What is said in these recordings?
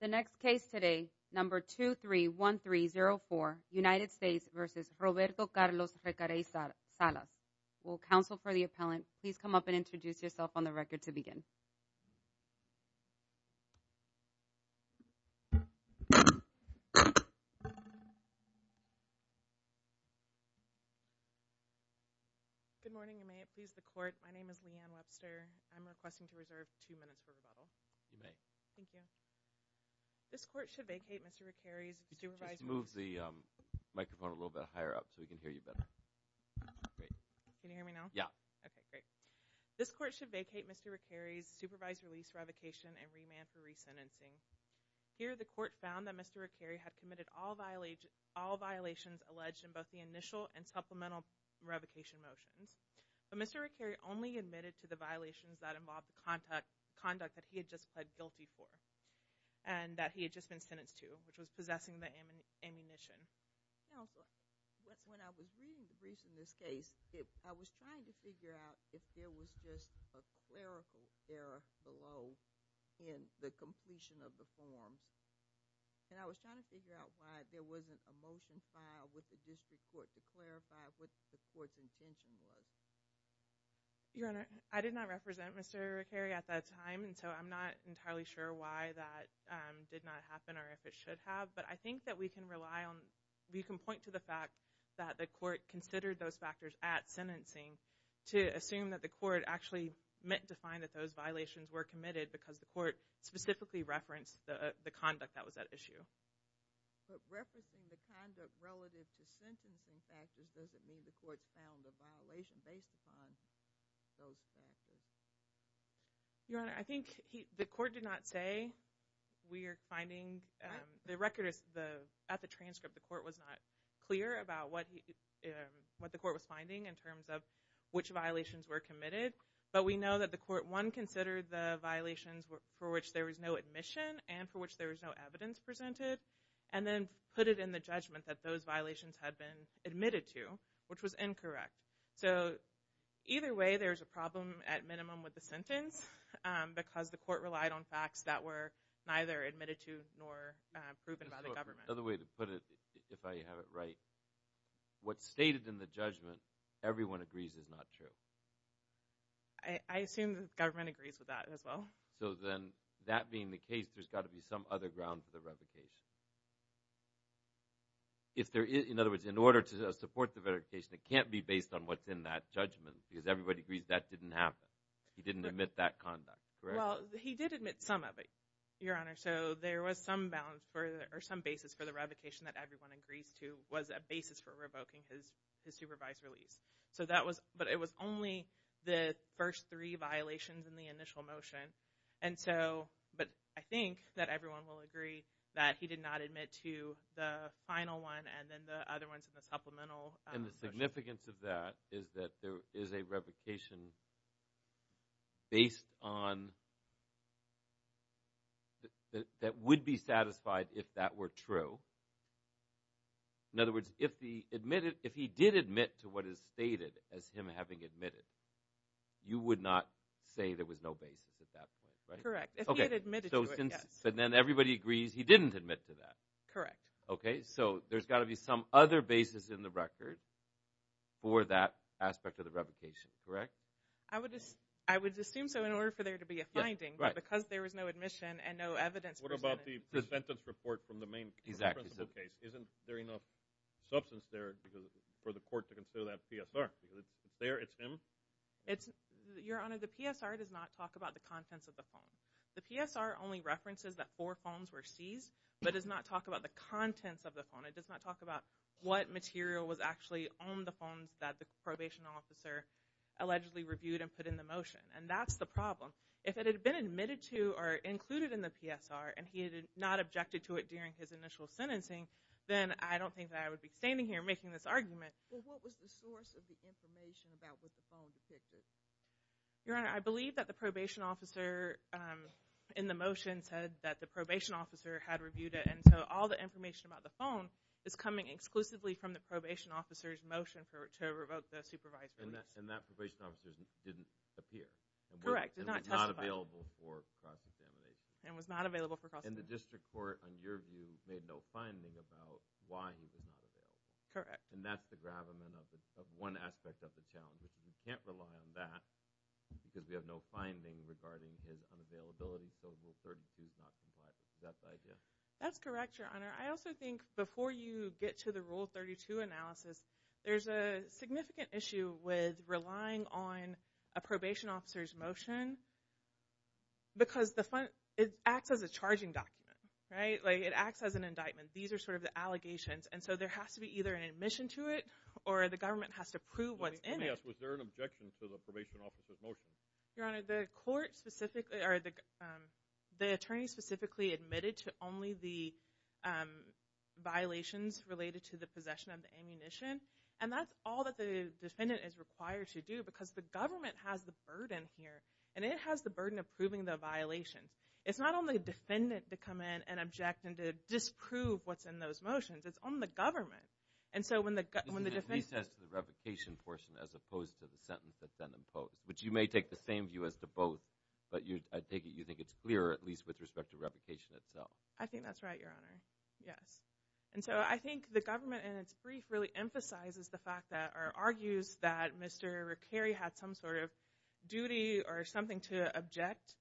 The next case today, number 231304, United States v. Roberto Carlos Recarey-Salas. Will counsel for the appellant please come up and introduce yourself on the record to begin. Good morning. May it please the court, my name is Leanne Webster. I'm requesting to reserve two minutes for rebuttal. You may. Thank you. This court should vacate Mr. Recarey's supervised release revocation and remand for resentencing. Here the court found that Mr. Recarey had committed all violations alleged in both the initial and supplemental revocation motions, but Mr. Recarey only admitted to the violations that involved the conduct that he had just pled guilty for and that he had just been sentenced to, which was possessing the ammunition. Counsel, when I was reading the brief in this case, I was trying to figure out if there was just a clerical error below in the completion of the form, and I was trying to figure out why there wasn't a motion filed with the district court to clarify what the court's intention was. Your Honor, I did not represent Mr. Recarey at that time, and so I'm not entirely sure why that did not happen or if it should have, but I think that we can rely on, we can point to the fact that the court considered those factors at sentencing to assume that the court actually meant to find that those violations were committed because the court specifically referenced the conduct that was at issue. But referencing the conduct relative to sentencing factors doesn't mean the court found a violation based upon those factors. Your Honor, I think the court did not say we are finding, the record is, at the transcript, the court was not clear about what the court was finding in terms of which violations were committed, but we know that the court, one, considered the violations for which there was no admission and for which there was no evidence presented and then put it in the judgment that those violations had been admitted to, which was incorrect. So either way, there's a problem at minimum with the sentence because the court relied on facts that were neither admitted to nor proven by the government. Another way to put it, if I have it right, what's stated in the judgment everyone agrees is not true. I assume the government agrees with that as well. So then that being the case, there's got to be some other ground for the revocation. In other words, in order to support the verification, it can't be based on what's in that judgment because everybody agrees that didn't happen. He didn't admit that conduct. Well, he did admit some of it, Your Honor. So there was some basis for the revocation that everyone agrees to was a basis for revoking his supervised release. So that was, but it was only the first three violations in the initial motion. And so, but I think that everyone will agree that he did not admit to the final one and then the other ones in the supplemental. And the significance of that is that there is a revocation based on that would be satisfied if that were true. In other words, if he admitted, if he did admit to what is stated as him having admitted, you would not say there was no basis at that point, right? Correct. If he had admitted to it, yes. And then everybody agrees he didn't admit to that. Correct. Okay. So there's got to be some other basis in the record for that aspect of the revocation, correct? I would just, I would assume so in order for there to be a finding, but because there was no admission and no evidence. What about the presentence report from the main court? Isn't there enough substance there for the court to consider that PSR? There, it's him? It's, Your Honor, the PSR does not talk about the contents of the phone. The PSR only references that four phones were seized, but does not talk about the contents of the phone. It does not talk about what material was actually on the phones that the probation officer allegedly reviewed and put in the motion. And that's the problem. If it had been admitted to or included in the PSR, and he had not objected to it during his initial sentencing, then I don't think that I would be standing here making this argument. Well, what was the source of the information about what the phone depicted? Your Honor, I believe that the probation officer in the motion said that the probation officer had reviewed it. And so all the information about the phone is coming exclusively from the probation officer's motion to revoke the supervised release. And that probation officer didn't appear? Correct, did not testify. And was not available for cross-examination? And was not available for cross-examination. And the district court, in your view, made no finding about why he was not available? Correct. And that's the gravamen of one aspect of the challenge. We can't rely on that because we have no finding regarding his unavailability. So rule 32 is not compliant. Is that the idea? That's correct, Your Honor. I also think before you get to the rule 32 analysis, there's a significant issue with relying on a probation officer's motion because it acts as a charging document, right? Like it acts as an indictment. These are sort of the allegations. And so there has to be either an admission to it or the government has to prove what's in it. Let me ask, was there an objection to the probation officer's motion? Your Honor, the court specifically, or the attorney specifically admitted to only the violations related to the possession of the ammunition. And that's all that the defendant is required to do because the government has the burden here. And it has the burden of proving the violation. It's not on the defendant to come in and object and to disprove what's in those motions. It's on the government. And so when the defense... It's a recess to the revocation portion as opposed to the sentence that's then imposed, which you may take the same view as the both, but I take it you think it's clear, at least with respect to revocation itself. I think that's right, Your Honor. Yes. And so I think the government in its brief really emphasizes the fact that, argues that Mr. Rickeri had some sort of duty or something to object.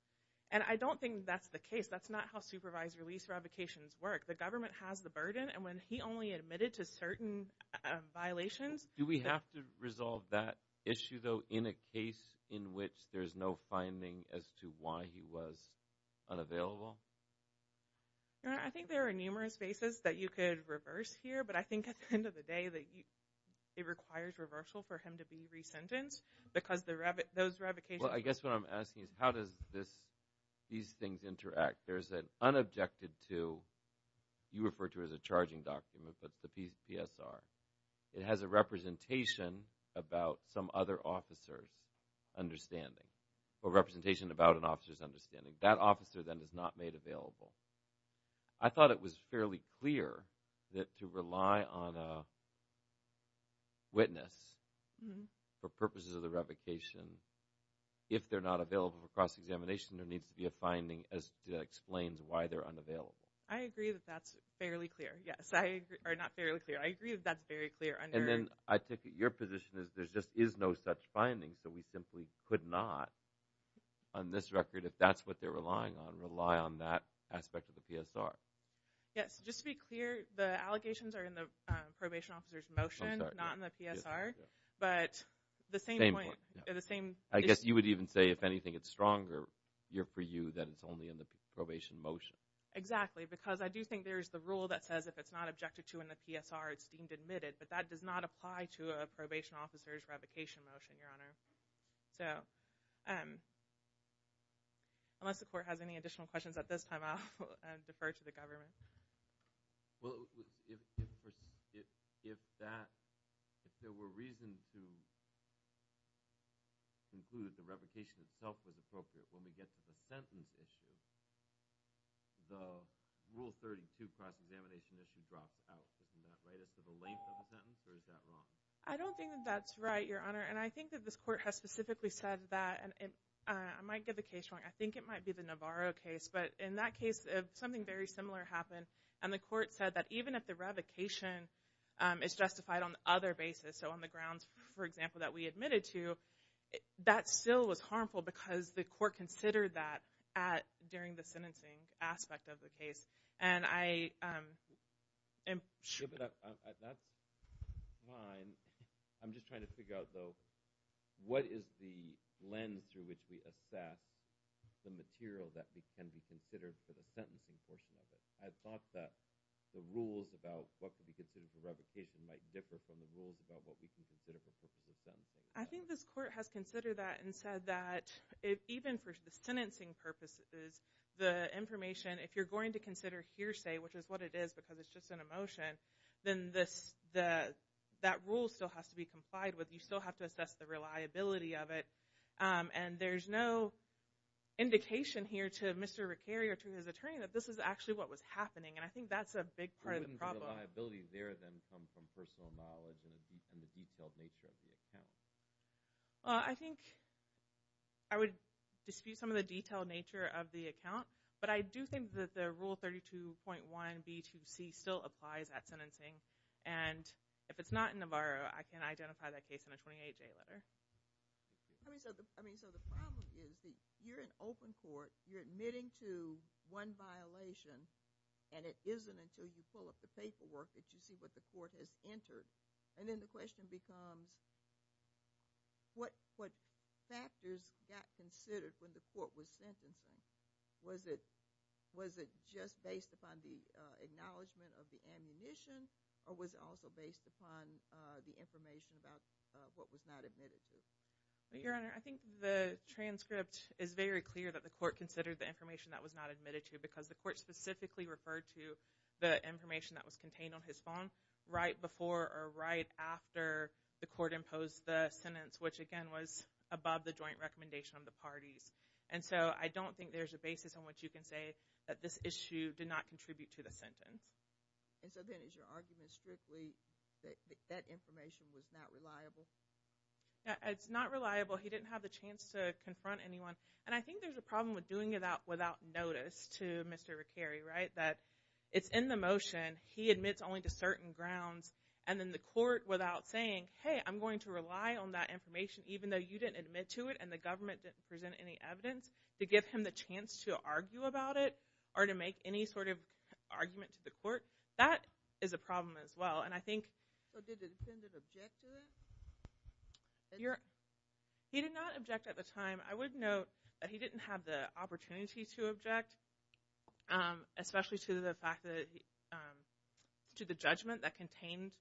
And I don't think that's the case. That's not how supervised release revocations work. The government has the burden. And when he only admitted to certain violations... Do we have to resolve that issue, though, in a case in which there's no finding as to why he was unavailable? Your Honor, I think there are numerous bases that you could reverse here. But I think at the end of the day that it requires reversal for him to be re-sentenced because those revocations... Well, I guess what I'm asking is how does this, these things interact? There's an unobjected to, you refer to as a charging document, but the PSR. It has a representation about some other officer's understanding, or representation about an officer's understanding. That officer then is not made available. I thought it was fairly clear that to rely on a witness for purposes of the revocation, if they're not available for cross-examination, there needs to be a finding as to explain why they're unavailable. I agree that that's fairly clear. Yes, I agree, or not fairly clear. I agree that that's very clear under... And then I take it your position is there just is no such finding. So we simply could not, on this record, if that's what they're relying on, rely on that aspect of the PSR. Yes, just to be clear, the allegations are in the probation officer's motion, not in the PSR, but the same point, the same... I guess you would even say if anything, it's stronger for you that it's only in the probation motion. Exactly, because I do think there's the rule that says if it's not objected to in the PSR, it's deemed admitted, but that does not apply to a probation officer's revocation motion, Your Honor. So unless the court has any additional questions at this time, I'll defer to the government. Well, if there were reasons to conclude that the revocation itself was appropriate, when we get to the sentence issue, the Rule 32 cross-examination issue drops out. Isn't that right? Is it for the length of the sentence, or is that wrong? I don't think that that's right, Your Honor. And I think that this court has specifically said that, and I might get the case wrong, I think it might be the Navarro case, but in that case, something very similar happened, and the court said that even if the revocation is justified on other basis, so on the grounds, for example, that we admitted to, that still was harmful because the court considered that during the sentencing aspect of the case. That's fine. I'm just trying to figure out, though, what is the lens through which we assess the material that can be considered for the sentencing portion of it? I thought that the rules about what could be considered for revocation might differ from the rules about what we can consider for sentencing. I think this court has considered that and said that even for the sentencing purposes, the information, if you're going to consider hearsay, which is what it is because it's just an emotion, then that rule still has to be complied with. You still have to assess the reliability of it, and there's no indication here to Mr. Ricari or to his attorney that this is actually what was happening, and I think that's a big part of the problem. The liabilities there then come from personal knowledge and the detailed nature of the account. I think I would dispute some of the detailed nature of the account, but I do think that the Rule 32.1b-2c still applies at sentencing, and if it's not in the bar, I can identify that case in a 28-day letter. I mean, so the problem is that you're in open court, you're admitting to one violation, and it isn't until you pull up the paperwork that you see what the court has entered, and then the question becomes what factors got considered when the court was sentencing? Was it just based upon the acknowledgement of the ammunition, or was it also based upon the information about what was not admitted to? Your Honor, I think the transcript is very clear that the court considered the information that was not admitted to because the court specifically referred to the information that was contained on his phone right before or right after the court imposed the sentence, which again was above the joint recommendation of the parties, and so I don't think there's a basis on which you can say that this issue did not contribute to the sentence. And so then is your argument strictly that that information was not reliable? It's not reliable. He didn't have the chance to confront anyone, and I think there's a problem with doing it without notice to Mr. Rickeri, right? That it's in the motion, he admits only to certain grounds, and then the court without saying, hey, I'm going to rely on that information even though you didn't admit to it and the government didn't present any evidence to give him the chance to argue about it or to make any sort of argument to the court. That is a problem as well, and I think... But did the defendant object to it? He did not object at the time. I would note that he didn't have the opportunity to object, especially to the fact that, to the judgment that contained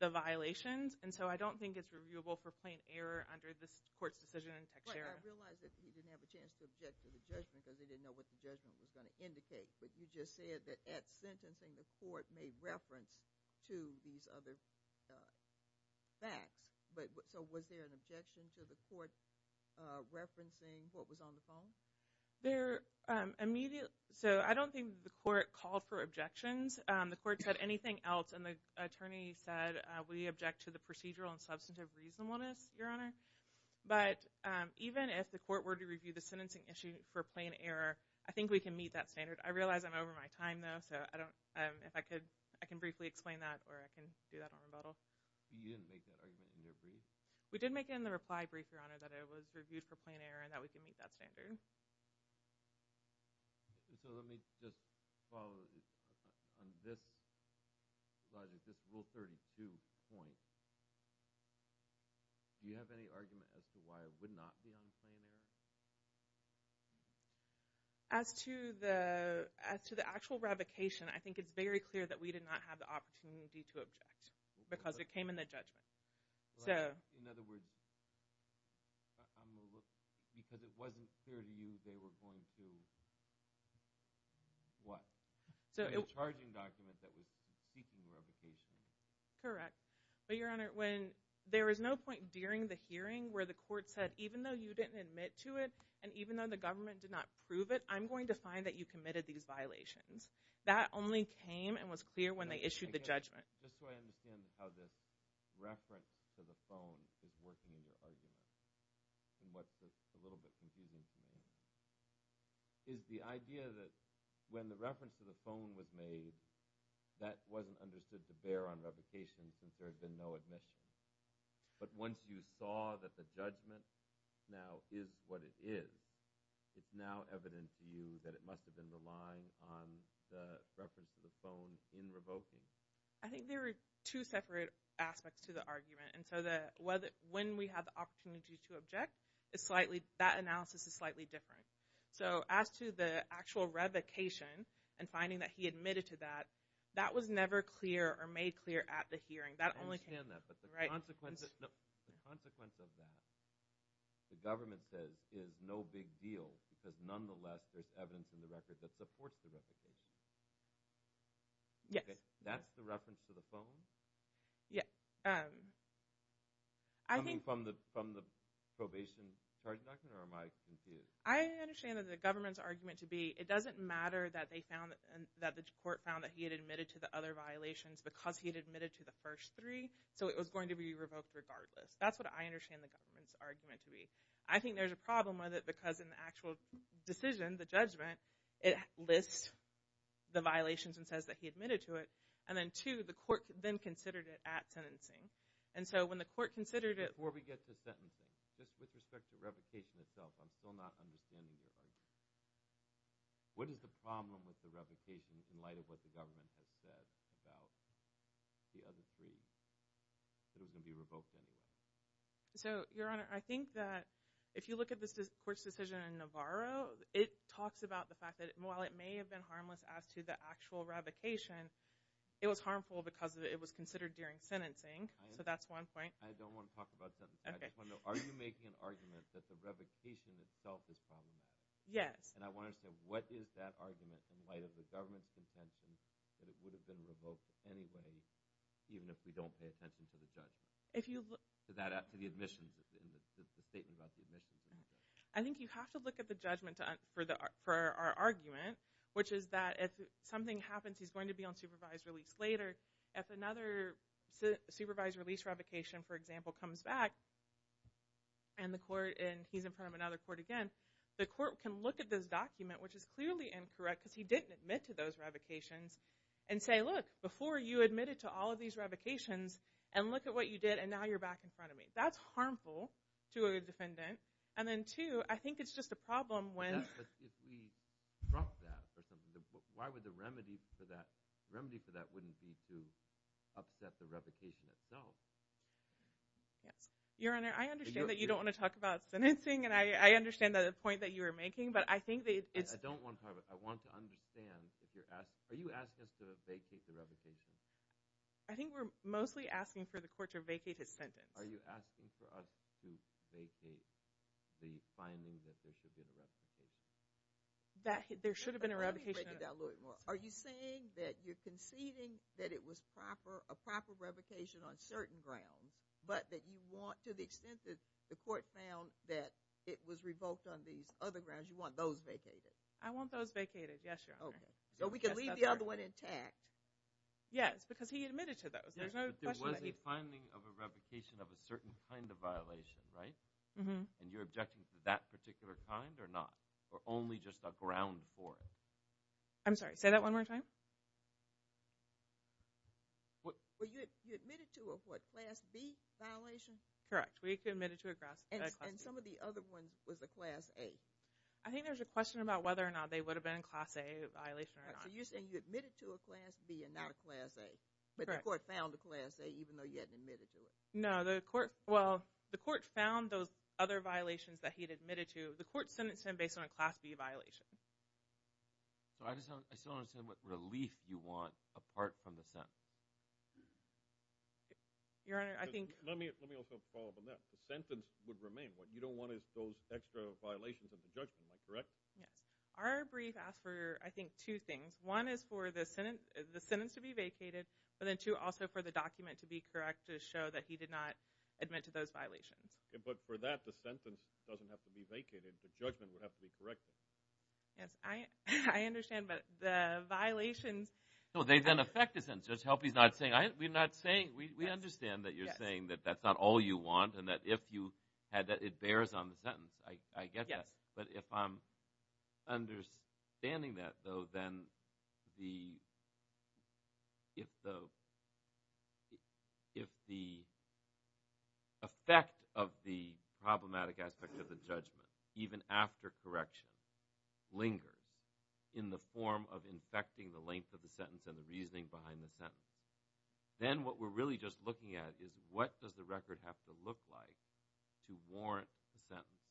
the violations, and so I don't think it's reviewable for plain error under this court's decision in Teixeira. I realize that he didn't have a chance to object to the judgment because he didn't know what the judgment was going to indicate, but you just said that at sentencing, the court made reference to these other facts, but so was there an objection to the court referencing what was on the phone? There immediately... So I don't think the court called for objections. The court said anything else, and the attorney said, We object to the procedural and substantive reasonableness, Your Honor. But even if the court were to review the sentencing issue for plain error, I think we can meet that standard. I realize I'm over my time, though, so I don't... If I could, I can briefly explain that, or I can do that on a bottle. So you didn't make that argument in your brief? We did make it in the reply brief, Your Honor, that it was reviewed for plain error and that we can meet that standard. So let me just follow on this slide. This rule 32 point, do you have any argument as to why it would not be on plain error? As to the actual revocation, I think it's very clear that we did not have the opportunity to object because it came in the judgment. In other words, because it wasn't clear to you they were going to... A charging document that was seeking revocation. But, Your Honor, when there was no point during the hearing where the court said, even though you didn't admit to it and even though the government did not prove it, I'm going to find that you committed these violations. That only came and was clear when they issued the judgment. Just so I understand how this reference to the phone is working in your argument and what's a little bit confusing to me is the idea that when the reference to the phone was made, that wasn't understood to bear on revocation since there had been no admission. But once you saw that the judgment now is what it is, it's now evident to you that it must have been relying on the reference to the phone in revoking. I think there are two separate aspects to the argument. And so when we have the opportunity to object, that analysis is slightly different. So as to the actual revocation and finding that he admitted to that, that was never clear or made clear at the hearing. That only came... I understand that, but the consequence of that, the government says, is no big deal because nonetheless there's evidence in the record that supports the revocation. Yes. That's the reference to the phone? Yes. Coming from the probation charge document or am I confused? I understand that the government's argument to be, it doesn't matter that they found that the court found that he had admitted to the other violations because he had admitted to the first three. So it was going to be revoked regardless. That's what I understand the government's argument to be. I think there's a problem with it because in the actual decision, the judgment, it lists the violations and says that he admitted to it. And then two, the court then considered it at sentencing. And so when the court considered it... Before we get to sentencing, just with respect to revocation itself, I'm still not understanding your argument. What is the problem with the revocation in light of what the government has said about the other three that are going to be revoked anyway? So, Your Honor, I think that if you look at this court's decision in Navarro, it talks about the fact that while it may have been harmless as to the actual revocation, it was harmful because it was considered during sentencing. So that's one point. I don't want to talk about sentencing. I just want to know, are you making an argument that the revocation itself is harmless? Yes. And I want to understand, what is that argument in light of the government's contention that it would have been revoked anyway even if we don't pay attention to the judgment? If you've... To the admissions, the statement about the admissions. I think you have to look at the judgment for our argument, which is that if something happens, he's going to be on supervised release later. If another supervised release revocation, for example, comes back and he's in front of another court again, the court can look at this document, which is clearly incorrect because he didn't admit to those revocations, and say, look, before you admitted to all of these revocations and look at what you did and now you're back in front of me. That's harmful to a defendant. And then two, I think it's just a problem when... If we drop that, why would the remedy for that... Remedy for that wouldn't be to upset the revocation itself. Yes. Your Honor, I understand that you don't want to talk about sentencing, and I understand the point that you were making, but I think that it's... I don't want to talk about... I want to understand if you're asking... Are you asking us to vacate the revocation? I think we're mostly asking for the court to vacate his sentence. Are you asking for us to vacate the finding that there should have been a revocation? There should have been a revocation. Are you saying that you're conceding that it was a proper revocation on certain grounds, but that you want, to the extent that the court found that it was revoked on these other grounds, you want those vacated? I want those vacated, yes, Your Honor. Okay. So we can leave the other one intact. Yes, because he admitted to those. There's no question that he... But there was a finding of a revocation of a certain kind of violation, right? And you're objecting to that particular kind or not? Or only just a ground for it? I'm sorry, say that one more time. Well, you admitted to a, what, Class B violation? Correct. We admitted to a Class B. And some of the other ones was a Class A. I think there's a question about whether or not they would have been a Class A violation or not. So you're saying you admitted to a Class B and not a Class A, but the court found a Class A even though you hadn't admitted to it. No, the court... Other violations that he'd admitted to, the court sentenced him based on a Class B violation. So I just don't understand what relief you want apart from the sentence. Your Honor, I think... Let me also follow up on that. The sentence would remain. What you don't want is those extra violations of the judgment, am I correct? Yes. Our brief asks for, I think, two things. One is for the sentence to be vacated, but then two, also for the document to be correct to show that he did not admit to those violations. But for that, the sentence doesn't have to be vacated. The judgment would have to be corrected. Yes, I understand, but the violations... No, they then affect the sentence. Just help he's not saying... We're not saying... We understand that you're saying that that's not all you want and that if you had that, it bears on the sentence. I get that. But if I'm understanding that, though, then if the effect of the problematic aspect of the judgment, even after correction, lingers in the form of infecting the length of the sentence and the reasoning behind the sentence, then what we're really just looking at is what does the record have to look like to warrant the sentence?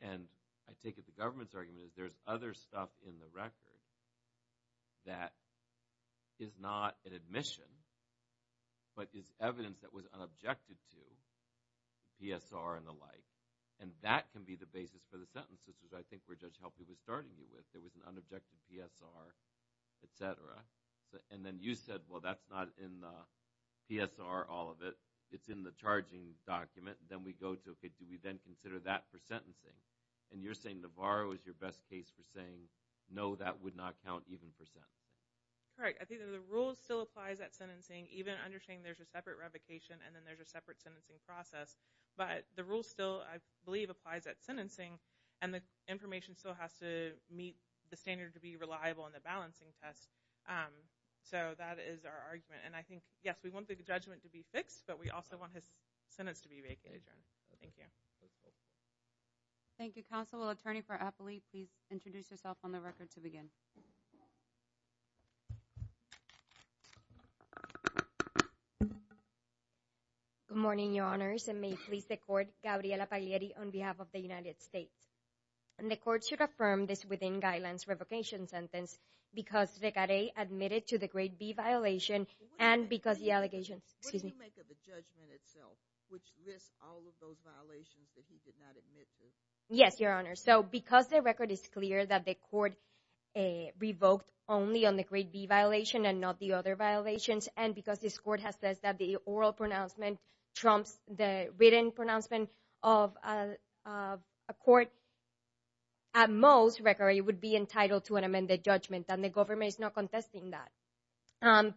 And I take it the government's argument is there's other stuff in the record that is not an admission, but is evidence that was unobjected to, PSR and the like. And that can be the basis for the sentences, which I think where Judge Helper was starting you with. There was an unobjective PSR, et cetera. And then you said, well, that's not in the PSR, all of it. It's in the charging document. Then we go to, okay, do we then consider that for sentencing? And you're saying Navarro is your best case for saying, no, that would not count even for sentencing. Correct. I think that the rule still applies at sentencing, even understanding there's a separate revocation, and then there's a separate sentencing process. But the rule still, I believe, applies at sentencing, and the information still has to meet the standard to be reliable in the balancing test. So that is our argument. And I think, yes, we want the judgment to be fixed, but we also want his sentence to be vacated. Thank you. Thank you, counsel. Attorney for Apley, please introduce yourself on the record to begin. Good morning, your honors. And may it please the court, Gabriela Pagliari on behalf of the United States. And the court should affirm this within guidelines revocation sentence because Ricaray admitted to the grade B violation and because the allegations, excuse me. What do you make of the judgment itself, which lists all of those violations that he did not admit to? Yes, your honors. So because the record is clear that the court revoked only on the grade B violation and not the other violations, and because this court has said that the oral pronouncement trumps the written pronouncement of a court, at most, Ricaray would be entitled to an amended judgment, and the government is not contesting that.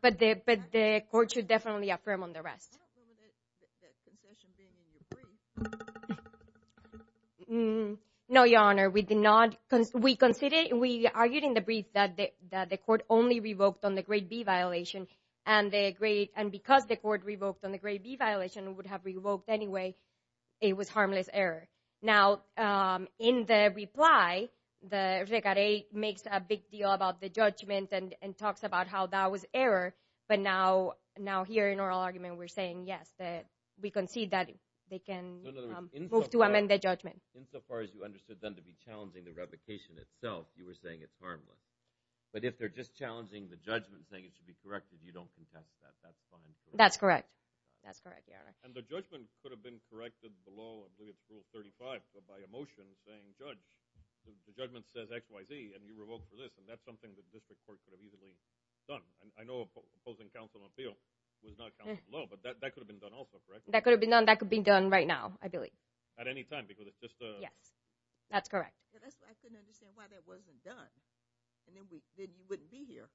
But the court should definitely affirm on the rest. I don't know that concession being in your brief. No, your honor. We did not, we considered, we argued in the brief that the court only revoked on the grade B violation and because the court revoked on the grade B violation, it would have revoked anyway. It was harmless error. Now, in the reply, the Ricaray makes a big deal about the judgment and talks about how that was error. But now here in oral argument, we're saying, yes, that we concede that they can move to amend the judgment. As far as you understood them to be challenging the revocation itself, you were saying it's harmless. But if they're just challenging the judgment, saying it should be corrected, you don't contest that. That's fine. That's correct. That's correct, your honor. And the judgment could have been corrected below rule 35 by a motion saying, judge, the judgment says X, Y, Z, and you revoked for this, and that's something that the district court could have easily done. I know opposing counsel appeal was not counted below, but that could have been done also, correct? That could have been done. That could be done right now, I believe. At any time, because it's just a- That's correct. I couldn't understand why that wasn't done. And then you wouldn't be here.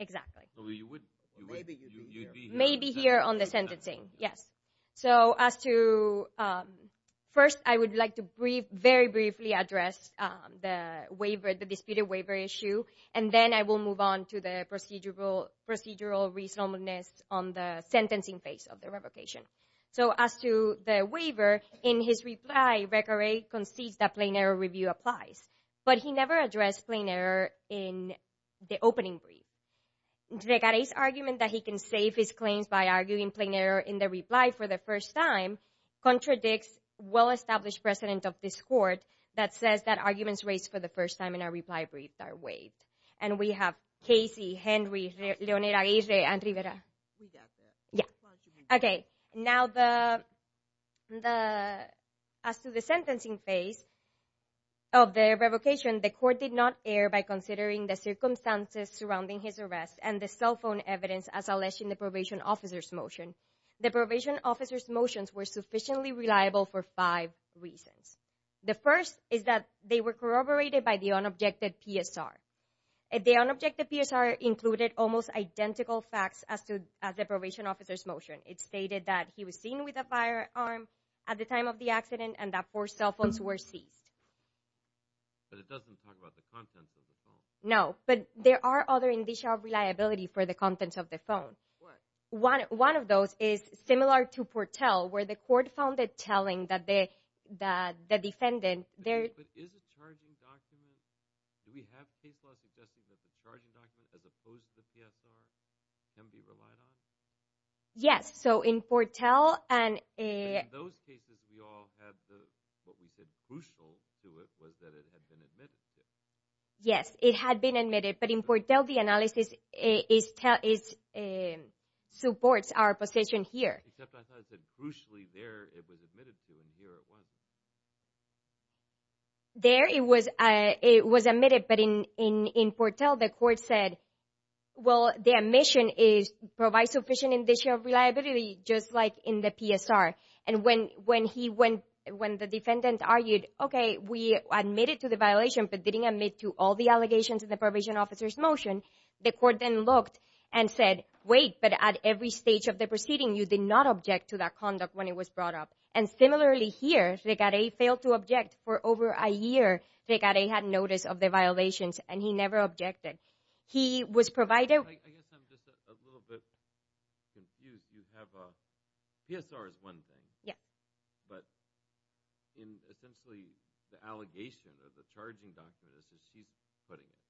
Exactly. Well, you wouldn't. Maybe you'd be here. Maybe here on the sentencing, yes. First, I would like to very briefly address the waiver, the disputed waiver issue, and then I will move on to the procedural reasonableness on the sentencing phase of the revocation. So as to the waiver, in his reply, Recaray concedes that plain error review applies, but he never addressed plain error in the opening brief. Recaray's argument that he can save his claims by arguing plain error in the reply for the first time contradicts well-established precedent of this court that says that arguments raised for the first time in a reply brief are waived. And we have Casey, Henry, Leonera, Geise, and Rivera. Who's out there? Yeah. Okay. Now, as to the sentencing phase of the revocation, the court did not err by considering the circumstances surrounding his arrest and the cell phone evidence as alleged in the probation officer's motion. The probation officer's motions were sufficiently reliable for five reasons. The first is that they were corroborated by the unobjected PSR. The unobjected PSR included almost identical facts as to the probation officer's motion. It stated that he was seen with a firearm at the time of the accident and that four cell phones were seized. But it doesn't talk about the contents of the phone. No, but there are other indicia of reliability for the contents of the phone. What? One of those is similar to Portel, where the court found it telling that the defendant there... But is it charging documents? Do we have case law suggesting that the charging documents as opposed to PSR can be relied on? Yes, so in Portel and... In those cases, we all had the... What we said crucial to it was that it had been admitted to. Yes, it had been admitted, but in Portel, the analysis supports our position here. Except I thought it said crucially there it was admitted to and here it wasn't. There it was admitted, but in Portel, the court said, well, the admission provides sufficient indicia of reliability just like in the PSR. And when the defendant argued, okay, we admitted to the violation, but didn't admit to all the allegations in the probation officer's motion, the court then looked and said, wait, but at every stage of the proceeding, you did not object to that conduct when it was brought up. And similarly here, Ricaray failed to object for over a year. Ricaray had notice of the violations and he never objected. He was provided... I guess I'm just a little bit confused. You have a... PSR is one thing. Yeah. But in essentially the allegation of the charging document is that she's putting it.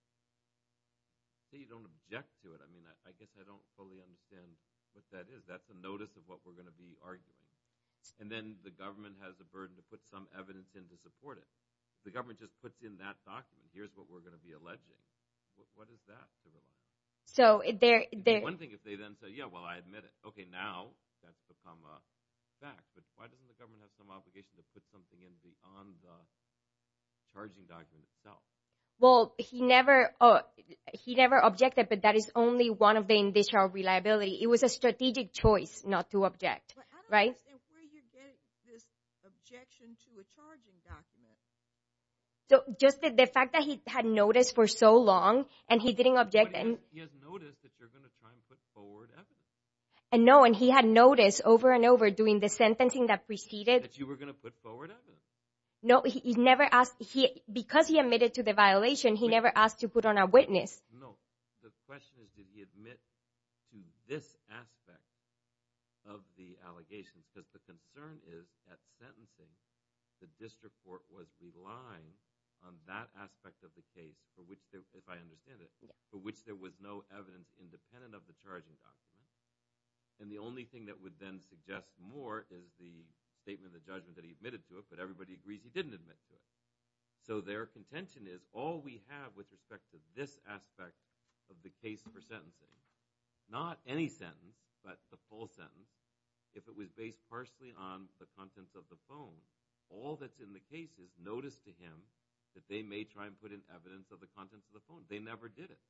So you don't object to it. I mean, I guess I don't fully understand what that is. That's a notice of what we're going to be arguing. And then the government has the burden to put some evidence in to support it. The government just puts in that document. Here's what we're going to be alleging. What is that? So they're... One thing if they then say, yeah, well, I admit it. Okay, now that's become a fact. But why doesn't the government have some obligation to put something on the charging document itself? Well, he never objected, but that is only one of the initial reliability. It was a strategic choice not to object, right? I don't understand where you get this objection to a charging document. So just the fact that he had notice for so long and he didn't object... But he has notice that you're going to try and put forward evidence. And no, and he had notice over and over doing the sentencing that preceded... That you were going to put forward evidence. No, he never asked... Because he admitted to the violation, he never asked to put on a witness. No, the question is, did he admit to this aspect of the allegations? Because the concern is that sentencing, the district court was relying on that aspect of the case if I understand it, for which there was no evidence independent of the charging document. And the only thing that would then suggest more is the statement of judgment that he admitted to it, but everybody agrees he didn't admit to it. So their contention is all we have with respect to this aspect of the case for sentencing, not any sentence, but the full sentence, if it was based partially on the contents of the phone, all that's in the case is notice to him that they may try and put in evidence of the contents of the phone. They never did it.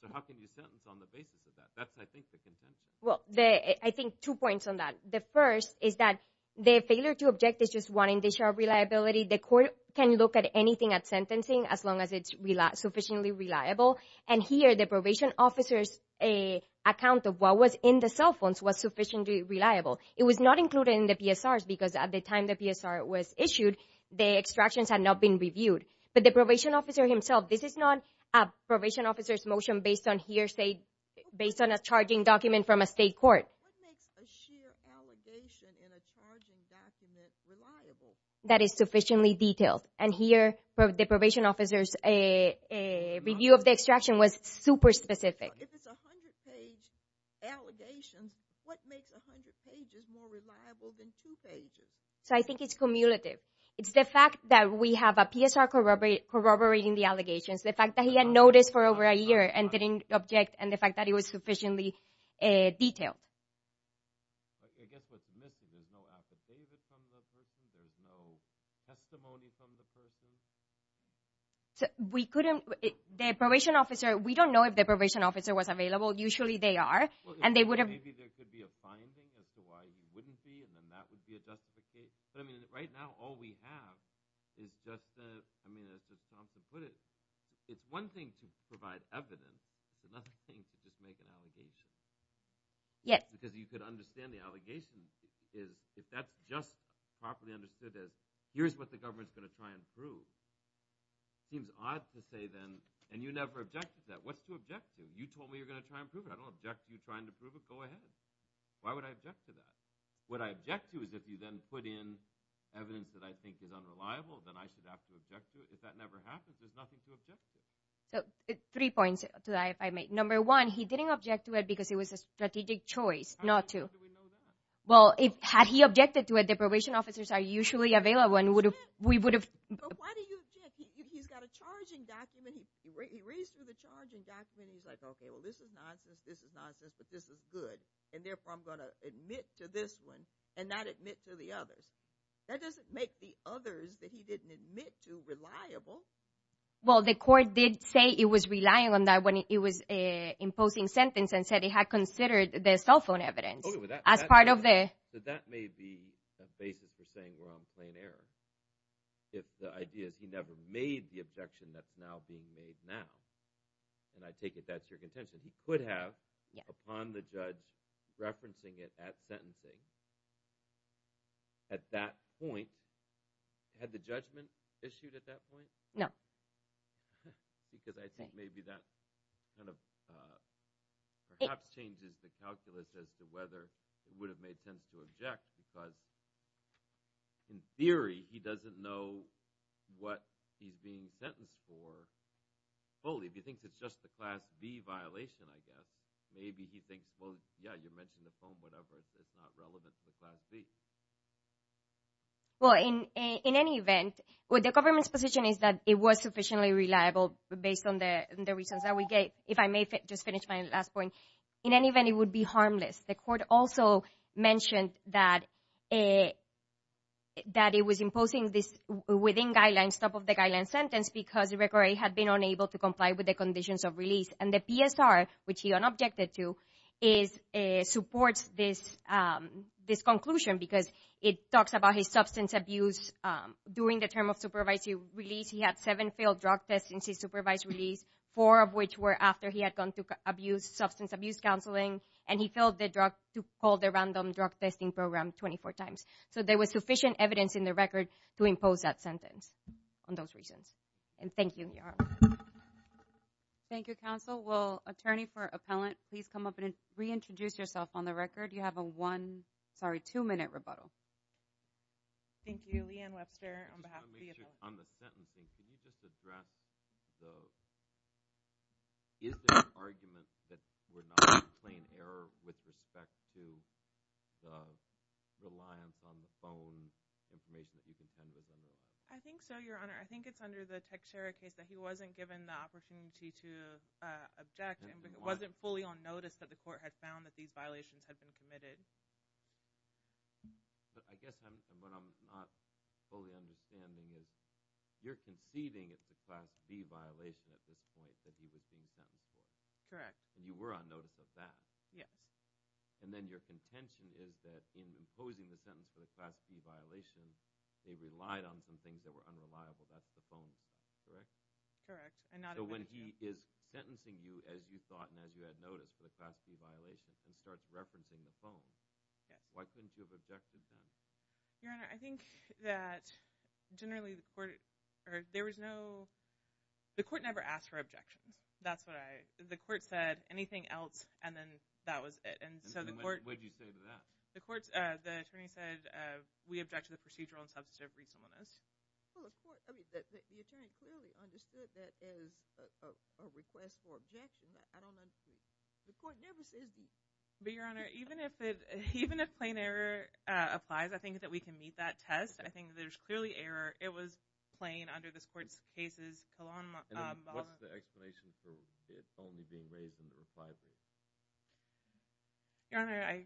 So how can you sentence on the basis of that? That's, I think, the contention. Well, I think two points on that. The first is that the failure to object is just wanting to show reliability. The court can look at anything at sentencing as long as it's sufficiently reliable. And here, the probation officer's account of what was in the cell phones was sufficiently reliable. It was not included in the PSRs because at the time the PSR was issued, the extractions had not been reviewed. But the probation officer himself, this is not a probation officer's motion based on hearsay, based on a charging document from a state court. What makes a sheer allegation in a charging document reliable? That is sufficiently detailed. And here, the probation officer's review of the extraction was super specific. If it's 100-page allegations, what makes 100 pages more reliable than two pages? So I think it's cumulative. It's the fact that we have a PSR corroborating the allegations, the fact that he had noticed for over a year and didn't object, and the fact that it was sufficiently detailed. But I guess what's missing is no affidavit from the person. There's no testimony from the person. We couldn't, the probation officer, we don't know if the probation officer was available. Usually they are, and they would have... Well, maybe there could be a finding as to why he wouldn't be, and then that would be a justification. But I mean, right now, all we have is just the, I mean, as Mr. Thompson put it, it's one thing to provide evidence. It's another thing to just make an allegation. Because you could understand the allegations is if that's just properly understood as here's what the government's gonna try and prove. Seems odd to say then, and you never objected to that. What's to object to? You told me you're gonna try and prove it. I don't object to you trying to prove it. Go ahead. Why would I object to that? What I object to is if you then put in evidence that I think is unreliable, then I should have to object to it. If that never happens, there's nothing to object to. So three points to that, if I may. Number one, he didn't object to it because it was a strategic choice not to. How do we know that? Well, had he objected to it, the probation officers are usually available, and we would have... But why do you object? He's got a charging document. He reads through the charging document. He's like, okay, well, this is nonsense. This is nonsense, but this is good. And therefore, I'm gonna admit to this one and not admit to the others. That doesn't make the others that he didn't admit to reliable. Well, the court did say it was relying on that when it was imposing sentence and said it had considered the cell phone evidence as part of the... So that may be a basis for saying we're on plain error. If the idea is he never made the objection that's now being made now, and I take it that's your contention, he could have, upon the judge referencing it at sentencing. At that point, had the judgment issued at that point? No. Because I think maybe that kind of perhaps changes the calculus as to whether it would have made sense to object because in theory, he doesn't know what he's being sentenced for fully. If he thinks it's just the class B violation, I guess, maybe he thinks, well, yeah, you mentioned the phone, whatever, it's not relevant to the class B. Well, in any event, what the government's position is that it was sufficiently reliable based on the reasons that we gave. If I may just finish my last point. In any event, it would be harmless. The court also mentioned that it was imposing this within guidelines, top of the guidelines sentence, because the record had been unable to comply with the conditions of release. And the PSR, which he unobjected to, supports this conclusion because it talks about his substance abuse during the term of supervisory release. He had seven failed drug tests since his supervised release, four of which were after he had gone to abuse, substance abuse counseling, and he filled the drug, called the random drug testing program 24 times. So there was sufficient evidence in the record to impose that sentence on those reasons. And thank you, Your Honor. Thank you, counsel. Will attorney for appellant, please come up and reintroduce yourself on the record. You have a one, sorry, two minute rebuttal. Thank you. Leanne Webster on behalf of the- On the sentencing, can you just address the, is there an argument that we're not playing error with respect to the reliance on the phone information that you contended in there? I think so, Your Honor. I think it's under the Techshare case that he wasn't given the opportunity to object and wasn't fully on notice that the court had found that these violations had been committed. But I guess what I'm not fully understanding is you're conceding it's a Class D violation at this point that he was being sentenced for. Correct. And you were on notice of that. Yeah. And then your contention is that in imposing the sentence for the Class D violation, they relied on some things that were unreliable. That's the phone, correct? Correct. And not- So when he is sentencing you as you thought and as you had noticed for the Class D violation, he starts referencing the phone. Yeah. Why couldn't you have objected to him? Your Honor, I think that generally the court, there was no, the court never asked for objections. That's what I, the court said anything else and then that was it. And so the court- What did you say to that? The court, the attorney said, we object to the procedural and substantive reasonableness. Well, the court, the attorney clearly understood that as a request for objection. I don't understand. The court never says that. But Your Honor, even if it, even if plain error applies, I think that we can meet that test. I think there's clearly error. It was plain under this court's cases. And then what's the explanation for it only being raised in the refisal? Your Honor, I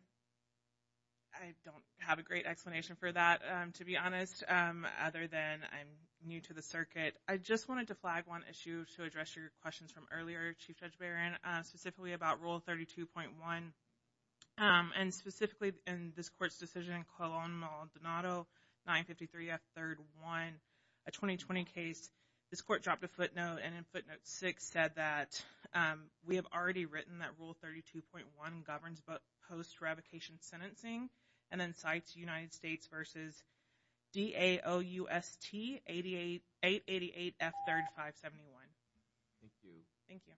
don't have a great explanation for that, to be honest. Other than I'm new to the circuit, I just wanted to flag one issue to address your questions from earlier, Chief Judge Barron, specifically about Rule 32.1. And specifically in this court's decision, Colón-Maldonado 953F, third one, a 2020 case, this court dropped a footnote and in footnote six said that we have already written that Rule 32.1 governs both post-eradication sentencing and then cites United States versus D-A-O-U-S-T 888-F3RD-571. Thank you. Thank you.